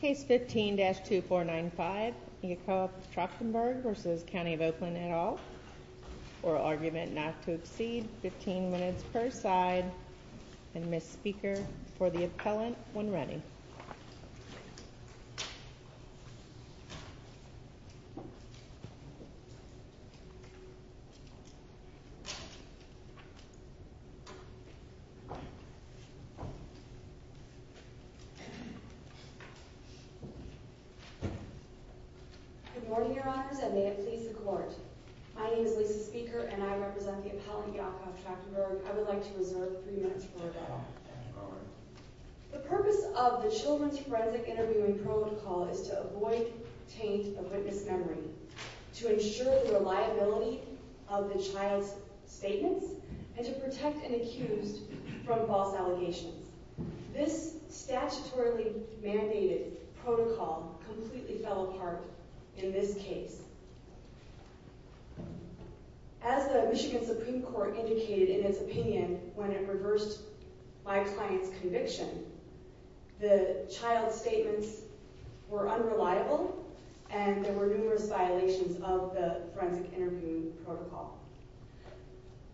Case 15-2495, Yakov Trakhtenberg v. County of Oakland et al. Oral argument not to exceed 15 minutes per side. Ms. Speaker, for the appellant, when ready. Good morning, Your Honors, and may it please the Court. My name is Lisa Speaker, and I represent the appellant, Yakov Trakhtenberg. I would like to reserve three minutes for a comment. The purpose of the Children's Forensic Interviewing Protocol is to avoid taint of witness memory, to ensure the reliability of the child's statements, and to protect an accused from false allegations. This statutorily mandated protocol completely fell apart in this case. As the Michigan Supreme Court indicated in its opinion when it reversed my client's conviction, the child's statements were unreliable, and there were numerous violations of the Forensic Interviewing Protocol.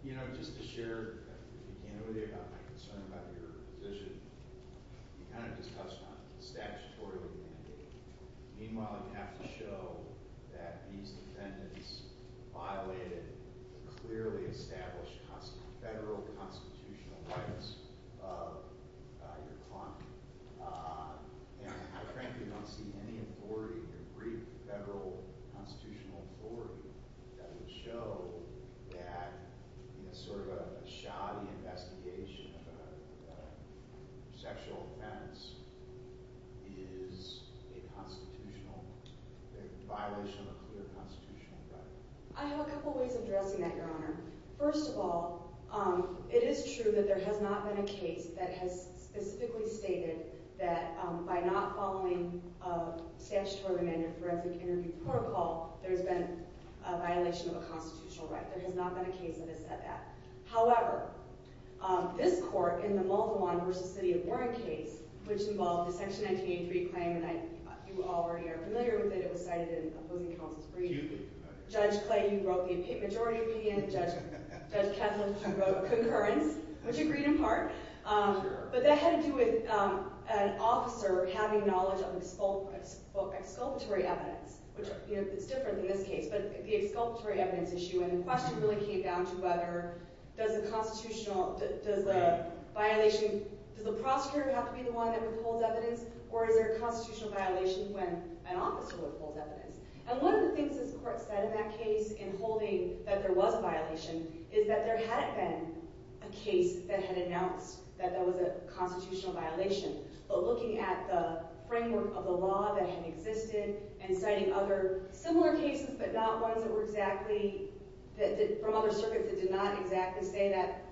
You know, just to share at the beginning with you about my concern about your position, you kind of just touched on statutorily mandated. Meanwhile, you have to show that these defendants violated the clearly established federal constitutional rights of your client. And I frankly don't see any authority, or brief federal constitutional authority, that would show that, you know, sort of a shoddy investigation of a sexual offense is a constitutional, a violation of a clear constitutional right. I have a couple ways of addressing that, Your Honor. First of all, it is true that there has not been a case that has specifically stated that by not following a statutorily mandated Forensic Interviewing Protocol, there's been a violation of a constitutional right. There has not been a case that has said that. However, this court in the Muldawon v. City of Warren case, which involved the Section 1983 claim, and you already are familiar with it, it was cited in opposing counsel's brief. Judge Clayton wrote the majority opinion, Judge Kessler wrote concurrence, which agreed in part. But that had to do with an officer having knowledge of exculpatory evidence, which is different in this case, but the exculpatory evidence issue. And the question really came down to whether does a constitutional, does a violation, does the prosecutor have to be the one that withholds evidence, And one of the things this court said in that case in holding that there was a violation is that there hadn't been a case that had announced that there was a constitutional violation. But looking at the framework of the law that had existed and citing other similar cases but not ones that were exactly, from other circuits that did not exactly say that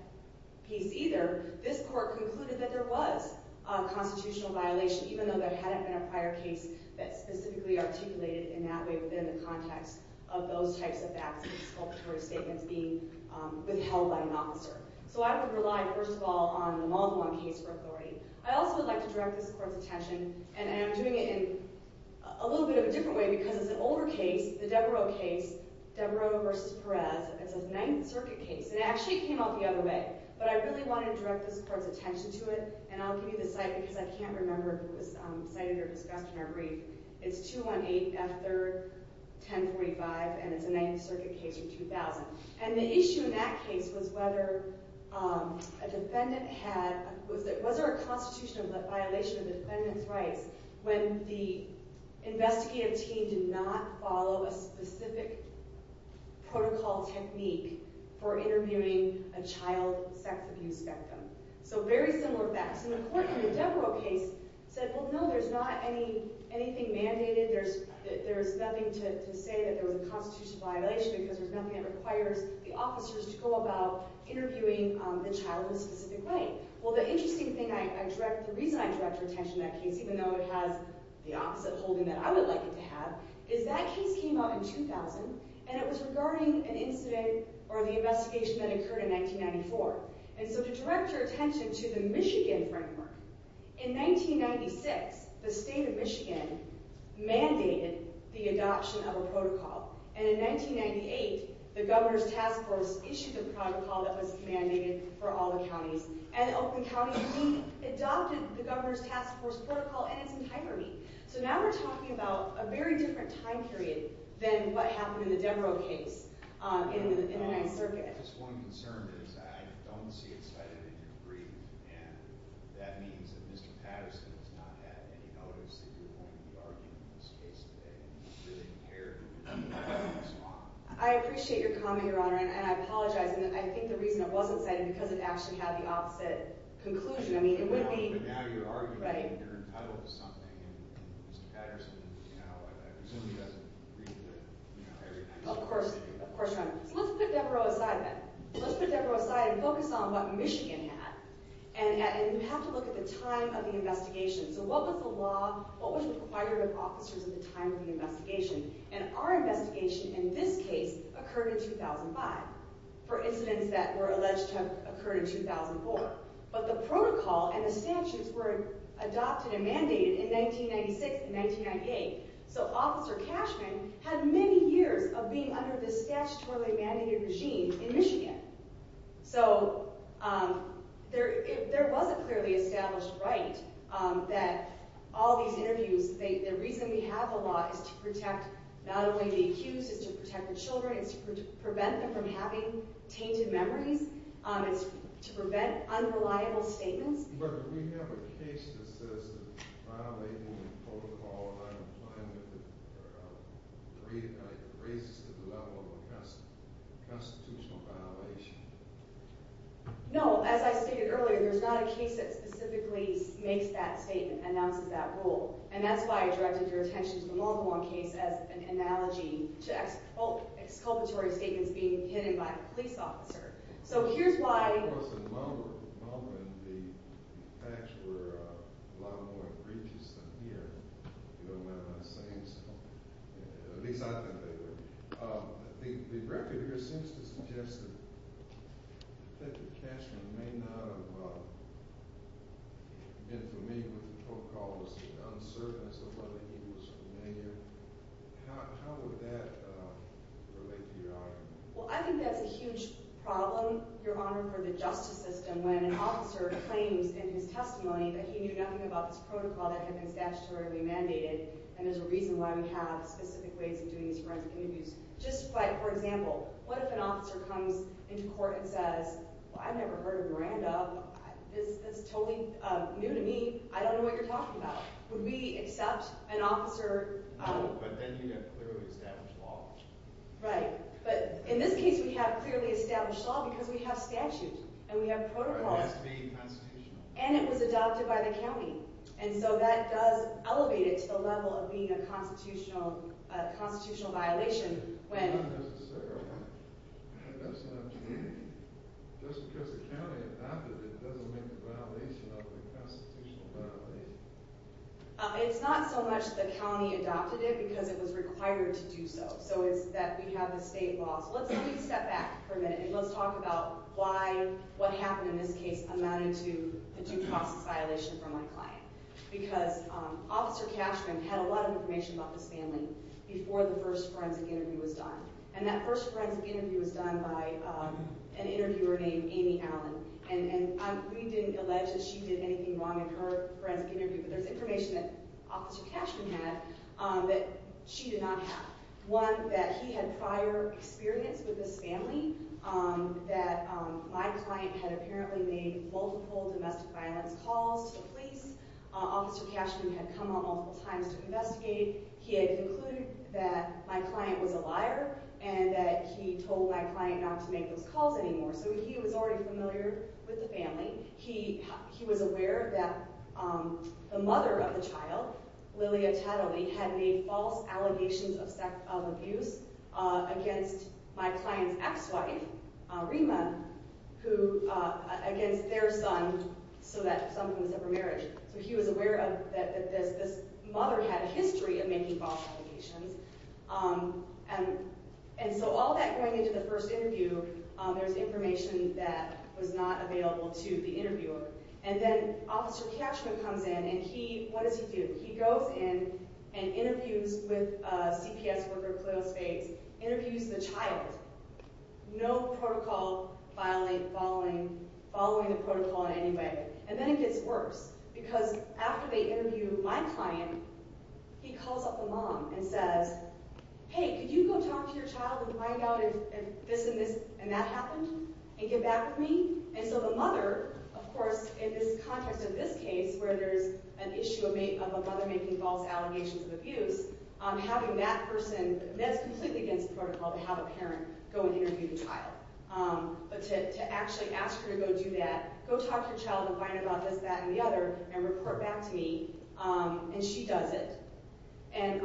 piece either, this court concluded that there was a constitutional violation, even though there hadn't been a prior case that specifically articulated it in that way within the context of those types of exculpatory statements being withheld by an officer. So I would rely, first of all, on the Muldawon case for authority. I also would like to direct this court's attention, and I'm doing it in a little bit of a different way because it's an older case, the Devereux case, Devereux v. Perez. It's a Ninth Circuit case, and it actually came out the other way, but I really wanted to direct this court's attention to it, and I'll give you the site because I can't remember if it was cited or discussed in our brief. It's 218 F. 3rd, 1045, and it's a Ninth Circuit case from 2000. And the issue in that case was whether a defendant had— was there a constitutional violation of the defendant's rights when the investigative team did not follow a specific protocol technique for interviewing a child sex abuse victim. So very similar facts. And the court in the Devereux case said, well, no, there's not anything mandated. There's nothing to say that there was a constitutional violation because there's nothing that requires the officers to go about interviewing the child in a specific way. Well, the interesting thing I direct—the reason I direct your attention to that case, even though it has the opposite holding that I would like it to have, is that case came out in 2000, and it was regarding an incident or the investigation that occurred in 1994. And so to direct your attention to the Michigan framework, in 1996, the state of Michigan mandated the adoption of a protocol. And in 1998, the Governor's Task Force issued the protocol that was mandated for all the counties. And Oakland County, we adopted the Governor's Task Force protocol in its entirety. So now we're talking about a very different time period than what happened in the Devereux case in the Ninth Circuit. Just one concern is I don't see it cited in your brief. And that means that Mr. Patterson has not had any notice that you're going to be arguing this case today. And he's really impaired. I appreciate your comment, Your Honor. And I apologize. And I think the reason it wasn't cited is because it actually had the opposite conclusion. I mean, it would be— But now you're arguing and you're entitled to something. And Mr. Patterson, you know, I presume he doesn't agree with it every time. Of course, Your Honor. So let's put Devereux aside then. Let's put Devereux aside and focus on what Michigan had. And you have to look at the time of the investigation. So what was the law? What was required of officers at the time of the investigation? And our investigation in this case occurred in 2005. For incidents that were alleged to have occurred in 2004. But the protocol and the statutes were adopted and mandated in 1996 and 1998. So Officer Cashman had many years of being under the statutorily mandated regime in Michigan. So there was a clearly established right that all these interviews— the reason we have the law is to protect not only the accused, it's to protect the children, it's to prevent them from having tainted memories, it's to prevent unreliable statements. But we have a case that says that violating the protocol of unemployment raises to the level of a constitutional violation. No, as I stated earlier, there's not a case that specifically makes that statement, announces that rule. And that's why I directed your attention to the Mulhamon case as an analogy to exculpatory statements being pitted by a police officer. So here's why— Of course, in Mulhamon, the facts were a lot more egregious than here. You don't mind my saying so. At least I think they were. The record here seems to suggest that Officer Cashman may not have been familiar with the protocol as to the uncertainty of whether he was familiar. How would that relate to your argument? Well, I think that's a huge problem, Your Honor, for the justice system, when an officer claims in his testimony that he knew nothing about this protocol that had been statutorily mandated, and there's a reason why we have specific ways of doing these forensic interviews. Just like, for example, what if an officer comes into court and says, well, I've never heard of Miranda, this is totally new to me, I don't know what you're talking about. Would we accept an officer— No, but then you'd have clearly established law. Right. But in this case, we have clearly established law because we have statute and we have protocol. It has to be constitutional. And it was adopted by the county. And so that does elevate it to the level of being a constitutional violation when— That's not necessary, Your Honor. That's not—just because the county adopted it doesn't make it a violation of a constitutional violation. It's not so much the county adopted it because it was required to do so. So it's that we have the state laws. Let me step back for a minute and let's talk about why what happened in this case amounted to a due process violation for my client. Because Officer Cashman had a lot of information about this family before the first forensic interview was done. And that first forensic interview was done by an interviewer named Amy Allen. And we didn't allege that she did anything wrong in her forensic interview, but there's information that Officer Cashman had that she did not have. One, that he had prior experience with this family, that my client had apparently made multiple domestic violence calls to the police. Officer Cashman had come on multiple times to investigate. He had concluded that my client was a liar and that he told my client not to make those calls anymore. So he was already familiar with the family. He was aware that the mother of the child, Lillia Tataly, had made false allegations of abuse against my client's ex-wife, Reema, against their son so that something was up for marriage. So he was aware that this mother had a history of making false allegations. And so all that going into the first interview, there's information that was not available to the interviewer. And then Officer Cashman comes in, and he, what does he do? He goes in and interviews with a CPS worker, Cleo Spades, interviews the child. No protocol following the protocol in any way. And then it gets worse. Because after they interview my client, he calls up the mom and says, Hey, could you go talk to your child and find out if this and that happened and get back with me? And so the mother, of course, in this context of this case where there's an issue of a mother making false allegations of abuse, having that person, that's completely against the protocol to have a parent go and interview the child. But to actually ask her to go do that, go talk to your child and find out about this, that, and the other, and report back to me. And she does it. And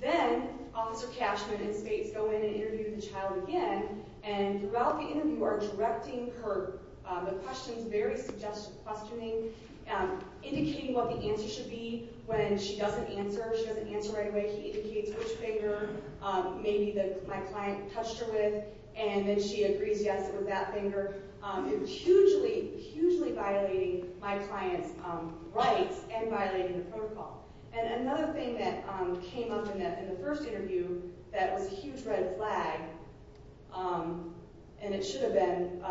then Officer Cashman and Spades go in and interview the child again. And throughout the interview, are directing her, the questions, very suggestive questioning, indicating what the answer should be when she doesn't answer, she doesn't answer right away. He indicates which finger maybe my client touched her with. And then she agrees, yes, it was that finger. Hugely, hugely violating my client's rights and violating the protocol. And another thing that came up in the first interview that was a huge red flag, and it should have been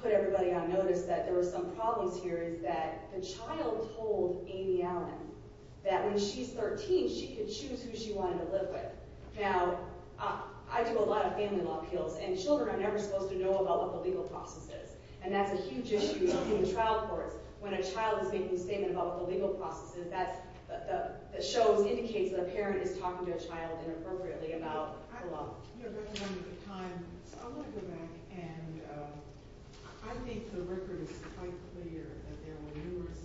put everybody on notice that there were some problems here, is that the child told Amy Allen that when she's 13, she could choose who she wanted to live with. Now, I do a lot of family law appeals, and children are never supposed to know about what the legal process is. And that's a huge issue in trial courts. When a child is making a statement about what the legal process is, that shows, indicates that a parent is talking to a child inappropriately about the law. You're running out of time, so I want to go back. And I think the record is quite clear that there were numerous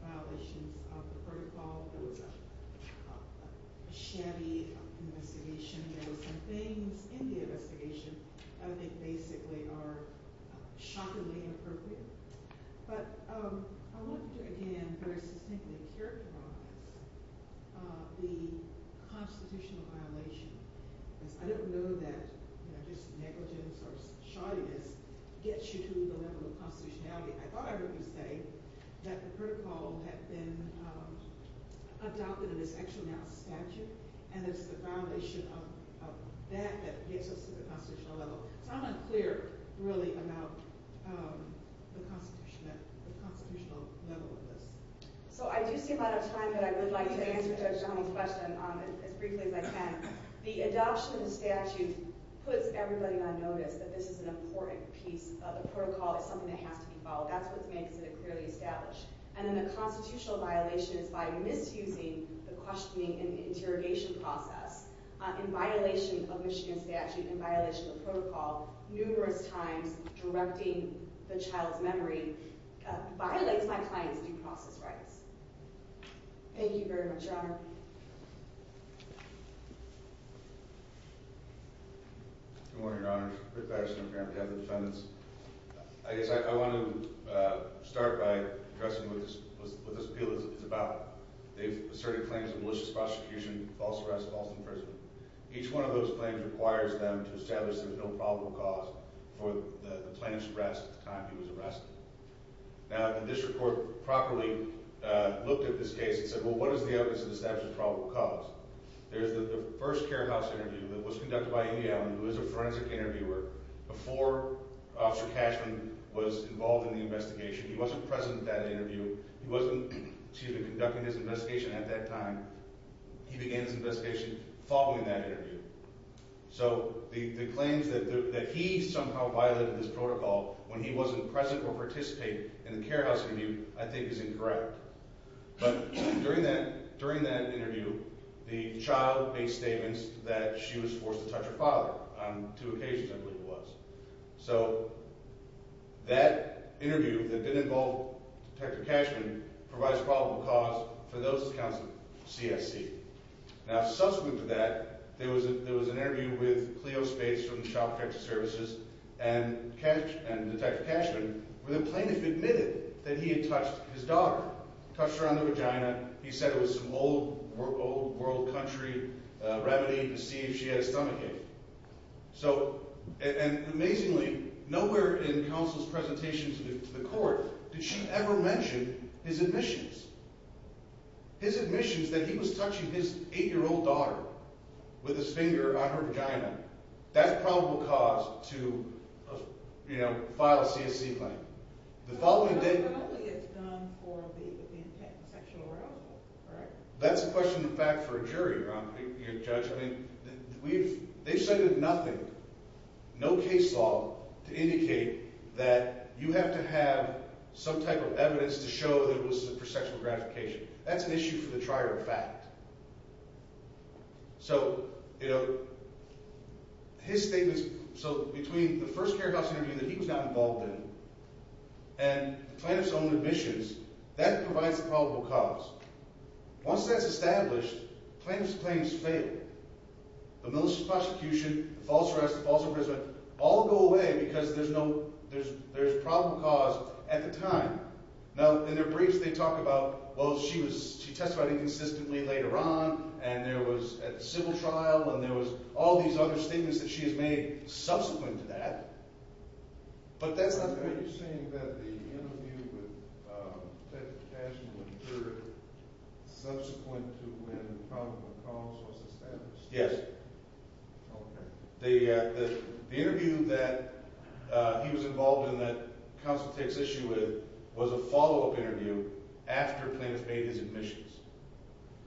violations of the protocol. There was a shabby investigation. There were some things in the investigation that I think basically are shockingly inappropriate. But I want to, again, very succinctly characterize the constitutional violation. I don't know that just negligence or shoddiness gets you to the level of constitutionality. I thought I heard you say that the protocol had been adopted, and it's actually now statute, and it's the foundation of that that gets us to the constitutional level. So I'm unclear, really, about the constitutional level of this. So I do see a lot of time, but I would like to answer Judge Johnnie's question as briefly as I can. The adoption of the statute puts everybody on notice that this is an important piece. The protocol is something that has to be followed. That's what makes it clearly established. And then the constitutional violation is by misusing the questioning and interrogation process. In violation of Michigan statute, in violation of protocol, numerous times directing the child's memory violates my client's due process rights. Thank you very much, Your Honor. Your Honor. Good morning, Your Honor. Rick Patterson on behalf of the defendants. I guess I want to start by addressing what this appeal is about. They've asserted claims of malicious prosecution, false arrest, false imprisonment. Each one of those claims requires them to establish there's no probable cause for the plaintiff's arrest at the time he was arrested. Now, if the district court properly looked at this case and said, well, what is the evidence of the statute's probable cause? There's the first courthouse interview that was conducted by Amy Allen, who is a forensic interviewer, before Officer Cashman was involved in the investigation. He wasn't present at that interview. He wasn't, excuse me, conducting his investigation at that time. He began his investigation following that interview. So the claims that he somehow violated this protocol when he wasn't present or participating in the courthouse interview I think is incorrect. But during that interview, the child made statements that she was forced to touch her father on two occasions, I believe it was. So that interview that didn't involve Detective Cashman provides probable cause for those accounts of CSC. Now, subsequent to that, there was an interview with Cleo Spates from the Child Protection Services and Detective Cashman where the plaintiff admitted that he had touched his daughter. Touched her on the vagina. He said it was some old world country remedy to see if she had a stomachache. So – and amazingly, nowhere in counsel's presentation to the court did she ever mention his admissions. His admissions that he was touching his 8-year-old daughter with his finger on her vagina, that's probable cause to, you know, file a CSC claim. The following day – But only if it's done for the intent of sexual harassment, correct? That's a question in fact for a jury, your Honor, your Judge. I mean, we've – they've cited nothing, no case law to indicate that you have to have some type of evidence to show that it was for sexual gratification. That's an issue for the trier of fact. So, you know, his statements – so between the first care house interview that he was not involved in and the plaintiff's own admissions, that provides the probable cause. Once that's established, plaintiff's claims fail. The militia prosecution, false arrest, false imprisonment all go away because there's no – there's probable cause at the time. Now, in their briefs they talk about, well, she was – she testified inconsistently later on and there was – at the civil trial and there was all these other statements that she has made subsequent to that. But that's not the case. So are you saying that the interview with Detective Cashman would occur subsequent to when the probable cause was established? Yes. Okay. The interview that he was involved in that counsel takes issue with was a follow-up interview after plaintiff made his admissions.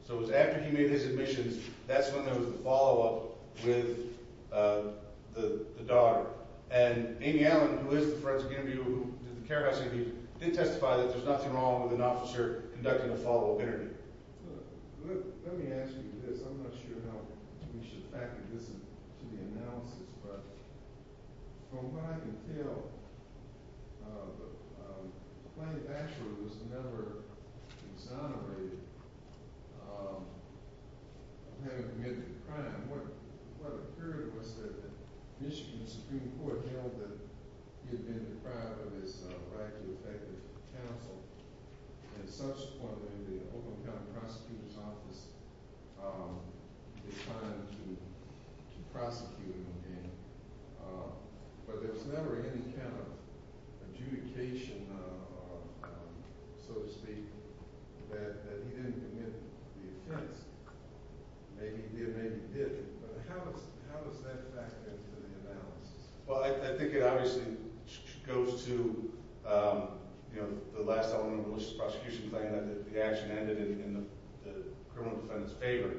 So it was after he made his admissions, that's when there was the follow-up with the daughter. And Amy Allen, who is the forensic interviewer who did the care house interview, did testify that there's nothing wrong with an officer conducting a follow-up interview. Let me ask you this. I'm not sure how we should factor this into the analysis, but from what I can tell, the plaintiff actually was never exonerated of having committed a crime. What occurred was that the Michigan Supreme Court held that he had been deprived of his right to effective counsel and subsequently the Oakland County Prosecutor's Office decided to prosecute him. But there was never any kind of adjudication, so to speak, that he didn't commit the offense. Maybe he did, maybe he didn't, but how does that factor into the analysis? Well, I think it obviously goes to the last element of the malicious prosecution plan that the action ended in the criminal defendant's favor.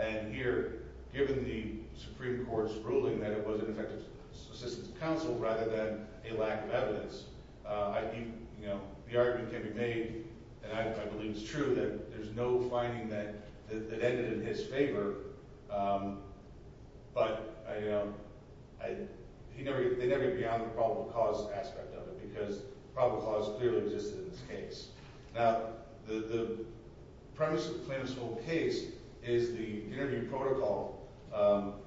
And here, given the Supreme Court's ruling that it was an effective assistance to counsel rather than a lack of evidence, the argument can be made, and I believe it's true, that there's no finding that it ended in his favor, but they never get beyond the probable cause aspect of it because probable cause clearly existed in this case. Now, the premise of the plaintiff's whole case is the interview protocol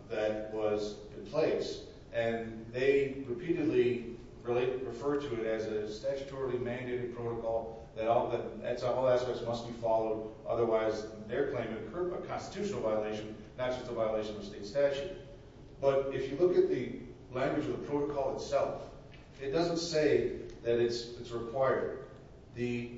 that was in place, and they repeatedly refer to it as a statutorily mandated protocol that all aspects must be followed. Otherwise, their claim would incur a constitutional violation, not just a violation of state statute. But if you look at the language of the protocol itself, it doesn't say that it's required. The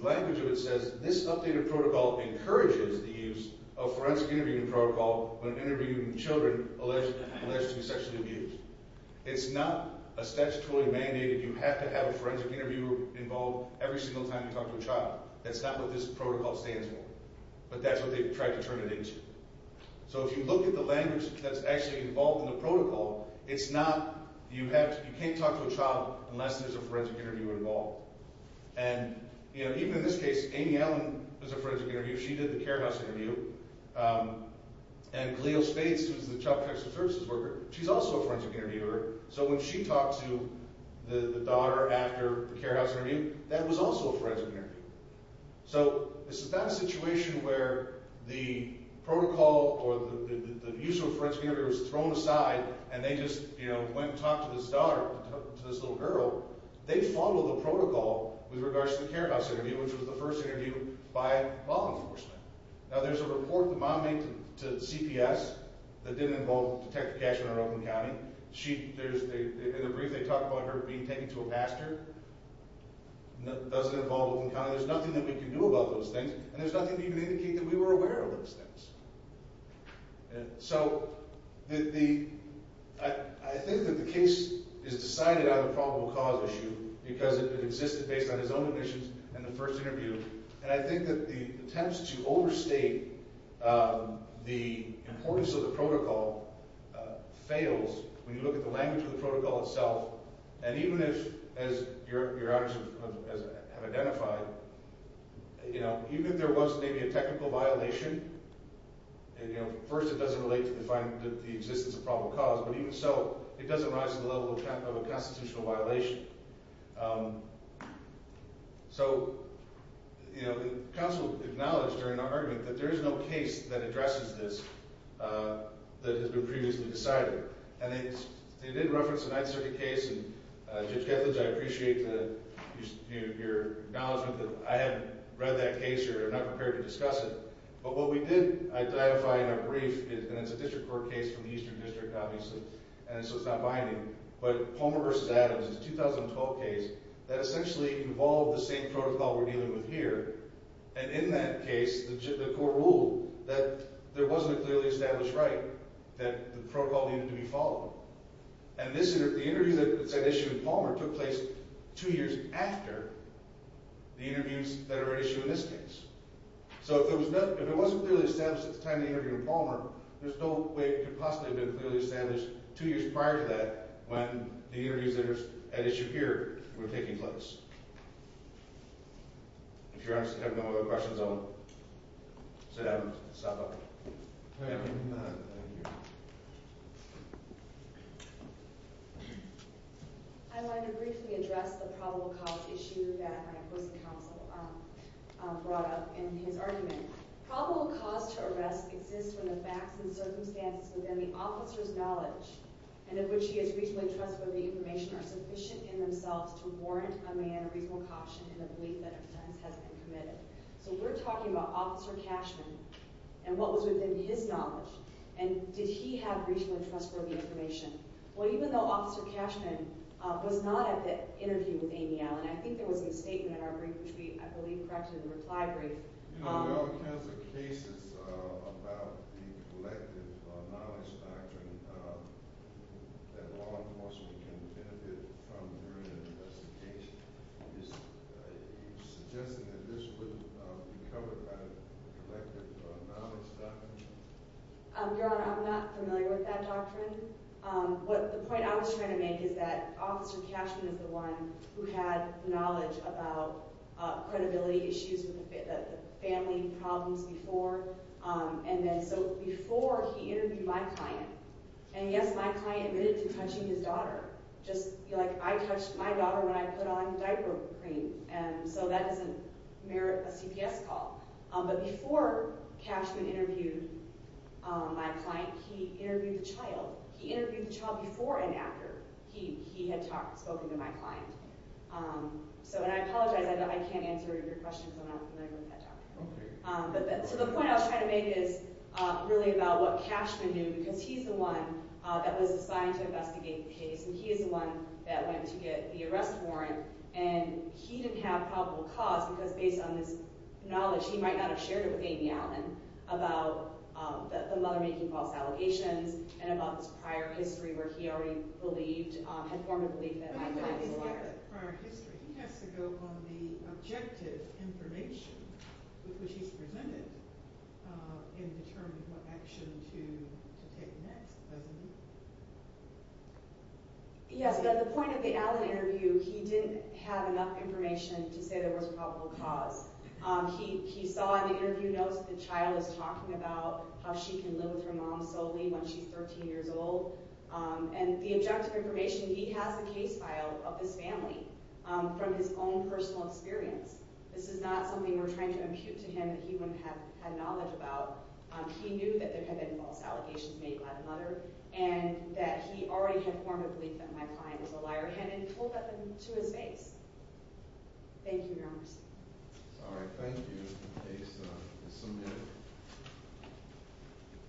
language of it says this updated protocol encourages the use of forensic interviewing protocol when interviewing children alleged to be sexually abused. It's not a statutorily mandated – you have to have a forensic interviewer involved every single time you talk to a child. That's not what this protocol stands for, but that's what they've tried to turn it into. So if you look at the language that's actually involved in the protocol, it's not – you can't talk to a child unless there's a forensic interviewer involved. And even in this case, Amy Allen was a forensic interviewer. She did the care house interview. And Galeel Spades, who's the child protection services worker, she's also a forensic interviewer. So when she talked to the daughter after the care house interview, that was also a forensic interview. So this is not a situation where the protocol or the use of a forensic interviewer was thrown aside and they just, you know, went and talked to this daughter, to this little girl. They followed the protocol with regards to the care house interview, which was the first interview by law enforcement. Now, there's a report the mom made to CPS that didn't involve Detective Cashman or Oakland County. She – there's – in the brief they talk about her being taken to a pastor. It doesn't involve Oakland County. There's nothing that we can do about those things, and there's nothing to even indicate that we were aware of those things. And so the – I think that the case is decided on a probable cause issue because it existed based on his own admissions and the first interview. And I think that the attempts to overstate the importance of the protocol fails when you look at the language of the protocol itself. And even if, as your honors have identified, you know, even if there was maybe a technical violation, you know, first it doesn't relate to the finding – the existence of probable cause. But even so, it doesn't rise to the level of a constitutional violation. So, you know, the counsel acknowledged during our argument that there is no case that addresses this that has been previously decided. And they did reference the Ninth Circuit case, and Judge Kethledge, I appreciate the – you know, your acknowledgement that I haven't read that case or am not prepared to discuss it. But what we did identify in our brief is – and it's a district court case from the Eastern District, obviously, and so it's not binding. But Palmer v. Adams is a 2012 case that essentially involved the same protocol we're dealing with here. And in that case, the court ruled that there wasn't a clearly established right, that the protocol needed to be followed. And this – the interview that's at issue with Palmer took place two years after the interviews that are at issue in this case. So if there was no – if it wasn't clearly established at the time of the interview with Palmer, there's no way it could possibly have been clearly established two years prior to that when the interviews that are at issue here were taking place. If you're asking technical questions, I'll sit down and stop up. All right. I want to briefly address the probable cause issue that my co-counsel brought up in his argument. Probable cause to arrest exists when the facts and circumstances within the officer's knowledge and in which he is reasonably trustworthy information are sufficient in themselves to warrant a man a reasonable caution in the belief that offense has been committed. So we're talking about Officer Cashman and what was within his knowledge. And did he have reasonably trustworthy information? Well, even though Officer Cashman was not at the interview with Amy Allen, I think there was a statement in our brief, which we, I believe, corrected in the reply brief. There are all kinds of cases about the collective knowledge doctrine that law enforcement can benefit from during an investigation. Are you suggesting that this wouldn't be covered by the collective knowledge doctrine? Your Honor, I'm not familiar with that doctrine. The point I was trying to make is that Officer Cashman is the one who had knowledge about credibility issues with the family problems before. And then so before he interviewed my client, and yes, my client admitted to touching his daughter. Just like I touched my daughter when I put on diaper cream. And so that doesn't merit a CPS call. But before Cashman interviewed my client, he interviewed the child. He interviewed the child before and after he had spoken to my client. So, and I apologize, I can't answer your questions. I'm not familiar with that doctrine. So the point I was trying to make is really about what Cashman knew, because he's the one that was assigned to investigate the case. And he is the one that went to get the arrest warrant. And he didn't have probable cause, because based on his knowledge, he might not have shared it with Amy Allen about the mother making false allegations, and about this prior history where he already believed, had formed a belief that my client was a liar. But he didn't get a prior history. He has to go on the objective information with which he's presented and determine what action to take next, doesn't he? Yes, at the point of the Allen interview, he didn't have enough information to say there was probable cause. He saw in the interview notes that the child is talking about how she can live with her mom solely when she's 13 years old. And the objective information, he has the case file of this family from his own personal experience. This is not something we're trying to impute to him that he wouldn't have had knowledge about. He knew that there had been false allegations made by the mother, and that he already had formed a belief that my client was a liar. And it pulled at him to his face. Thank you, Your Honor. All right, thank you. The case is submitted.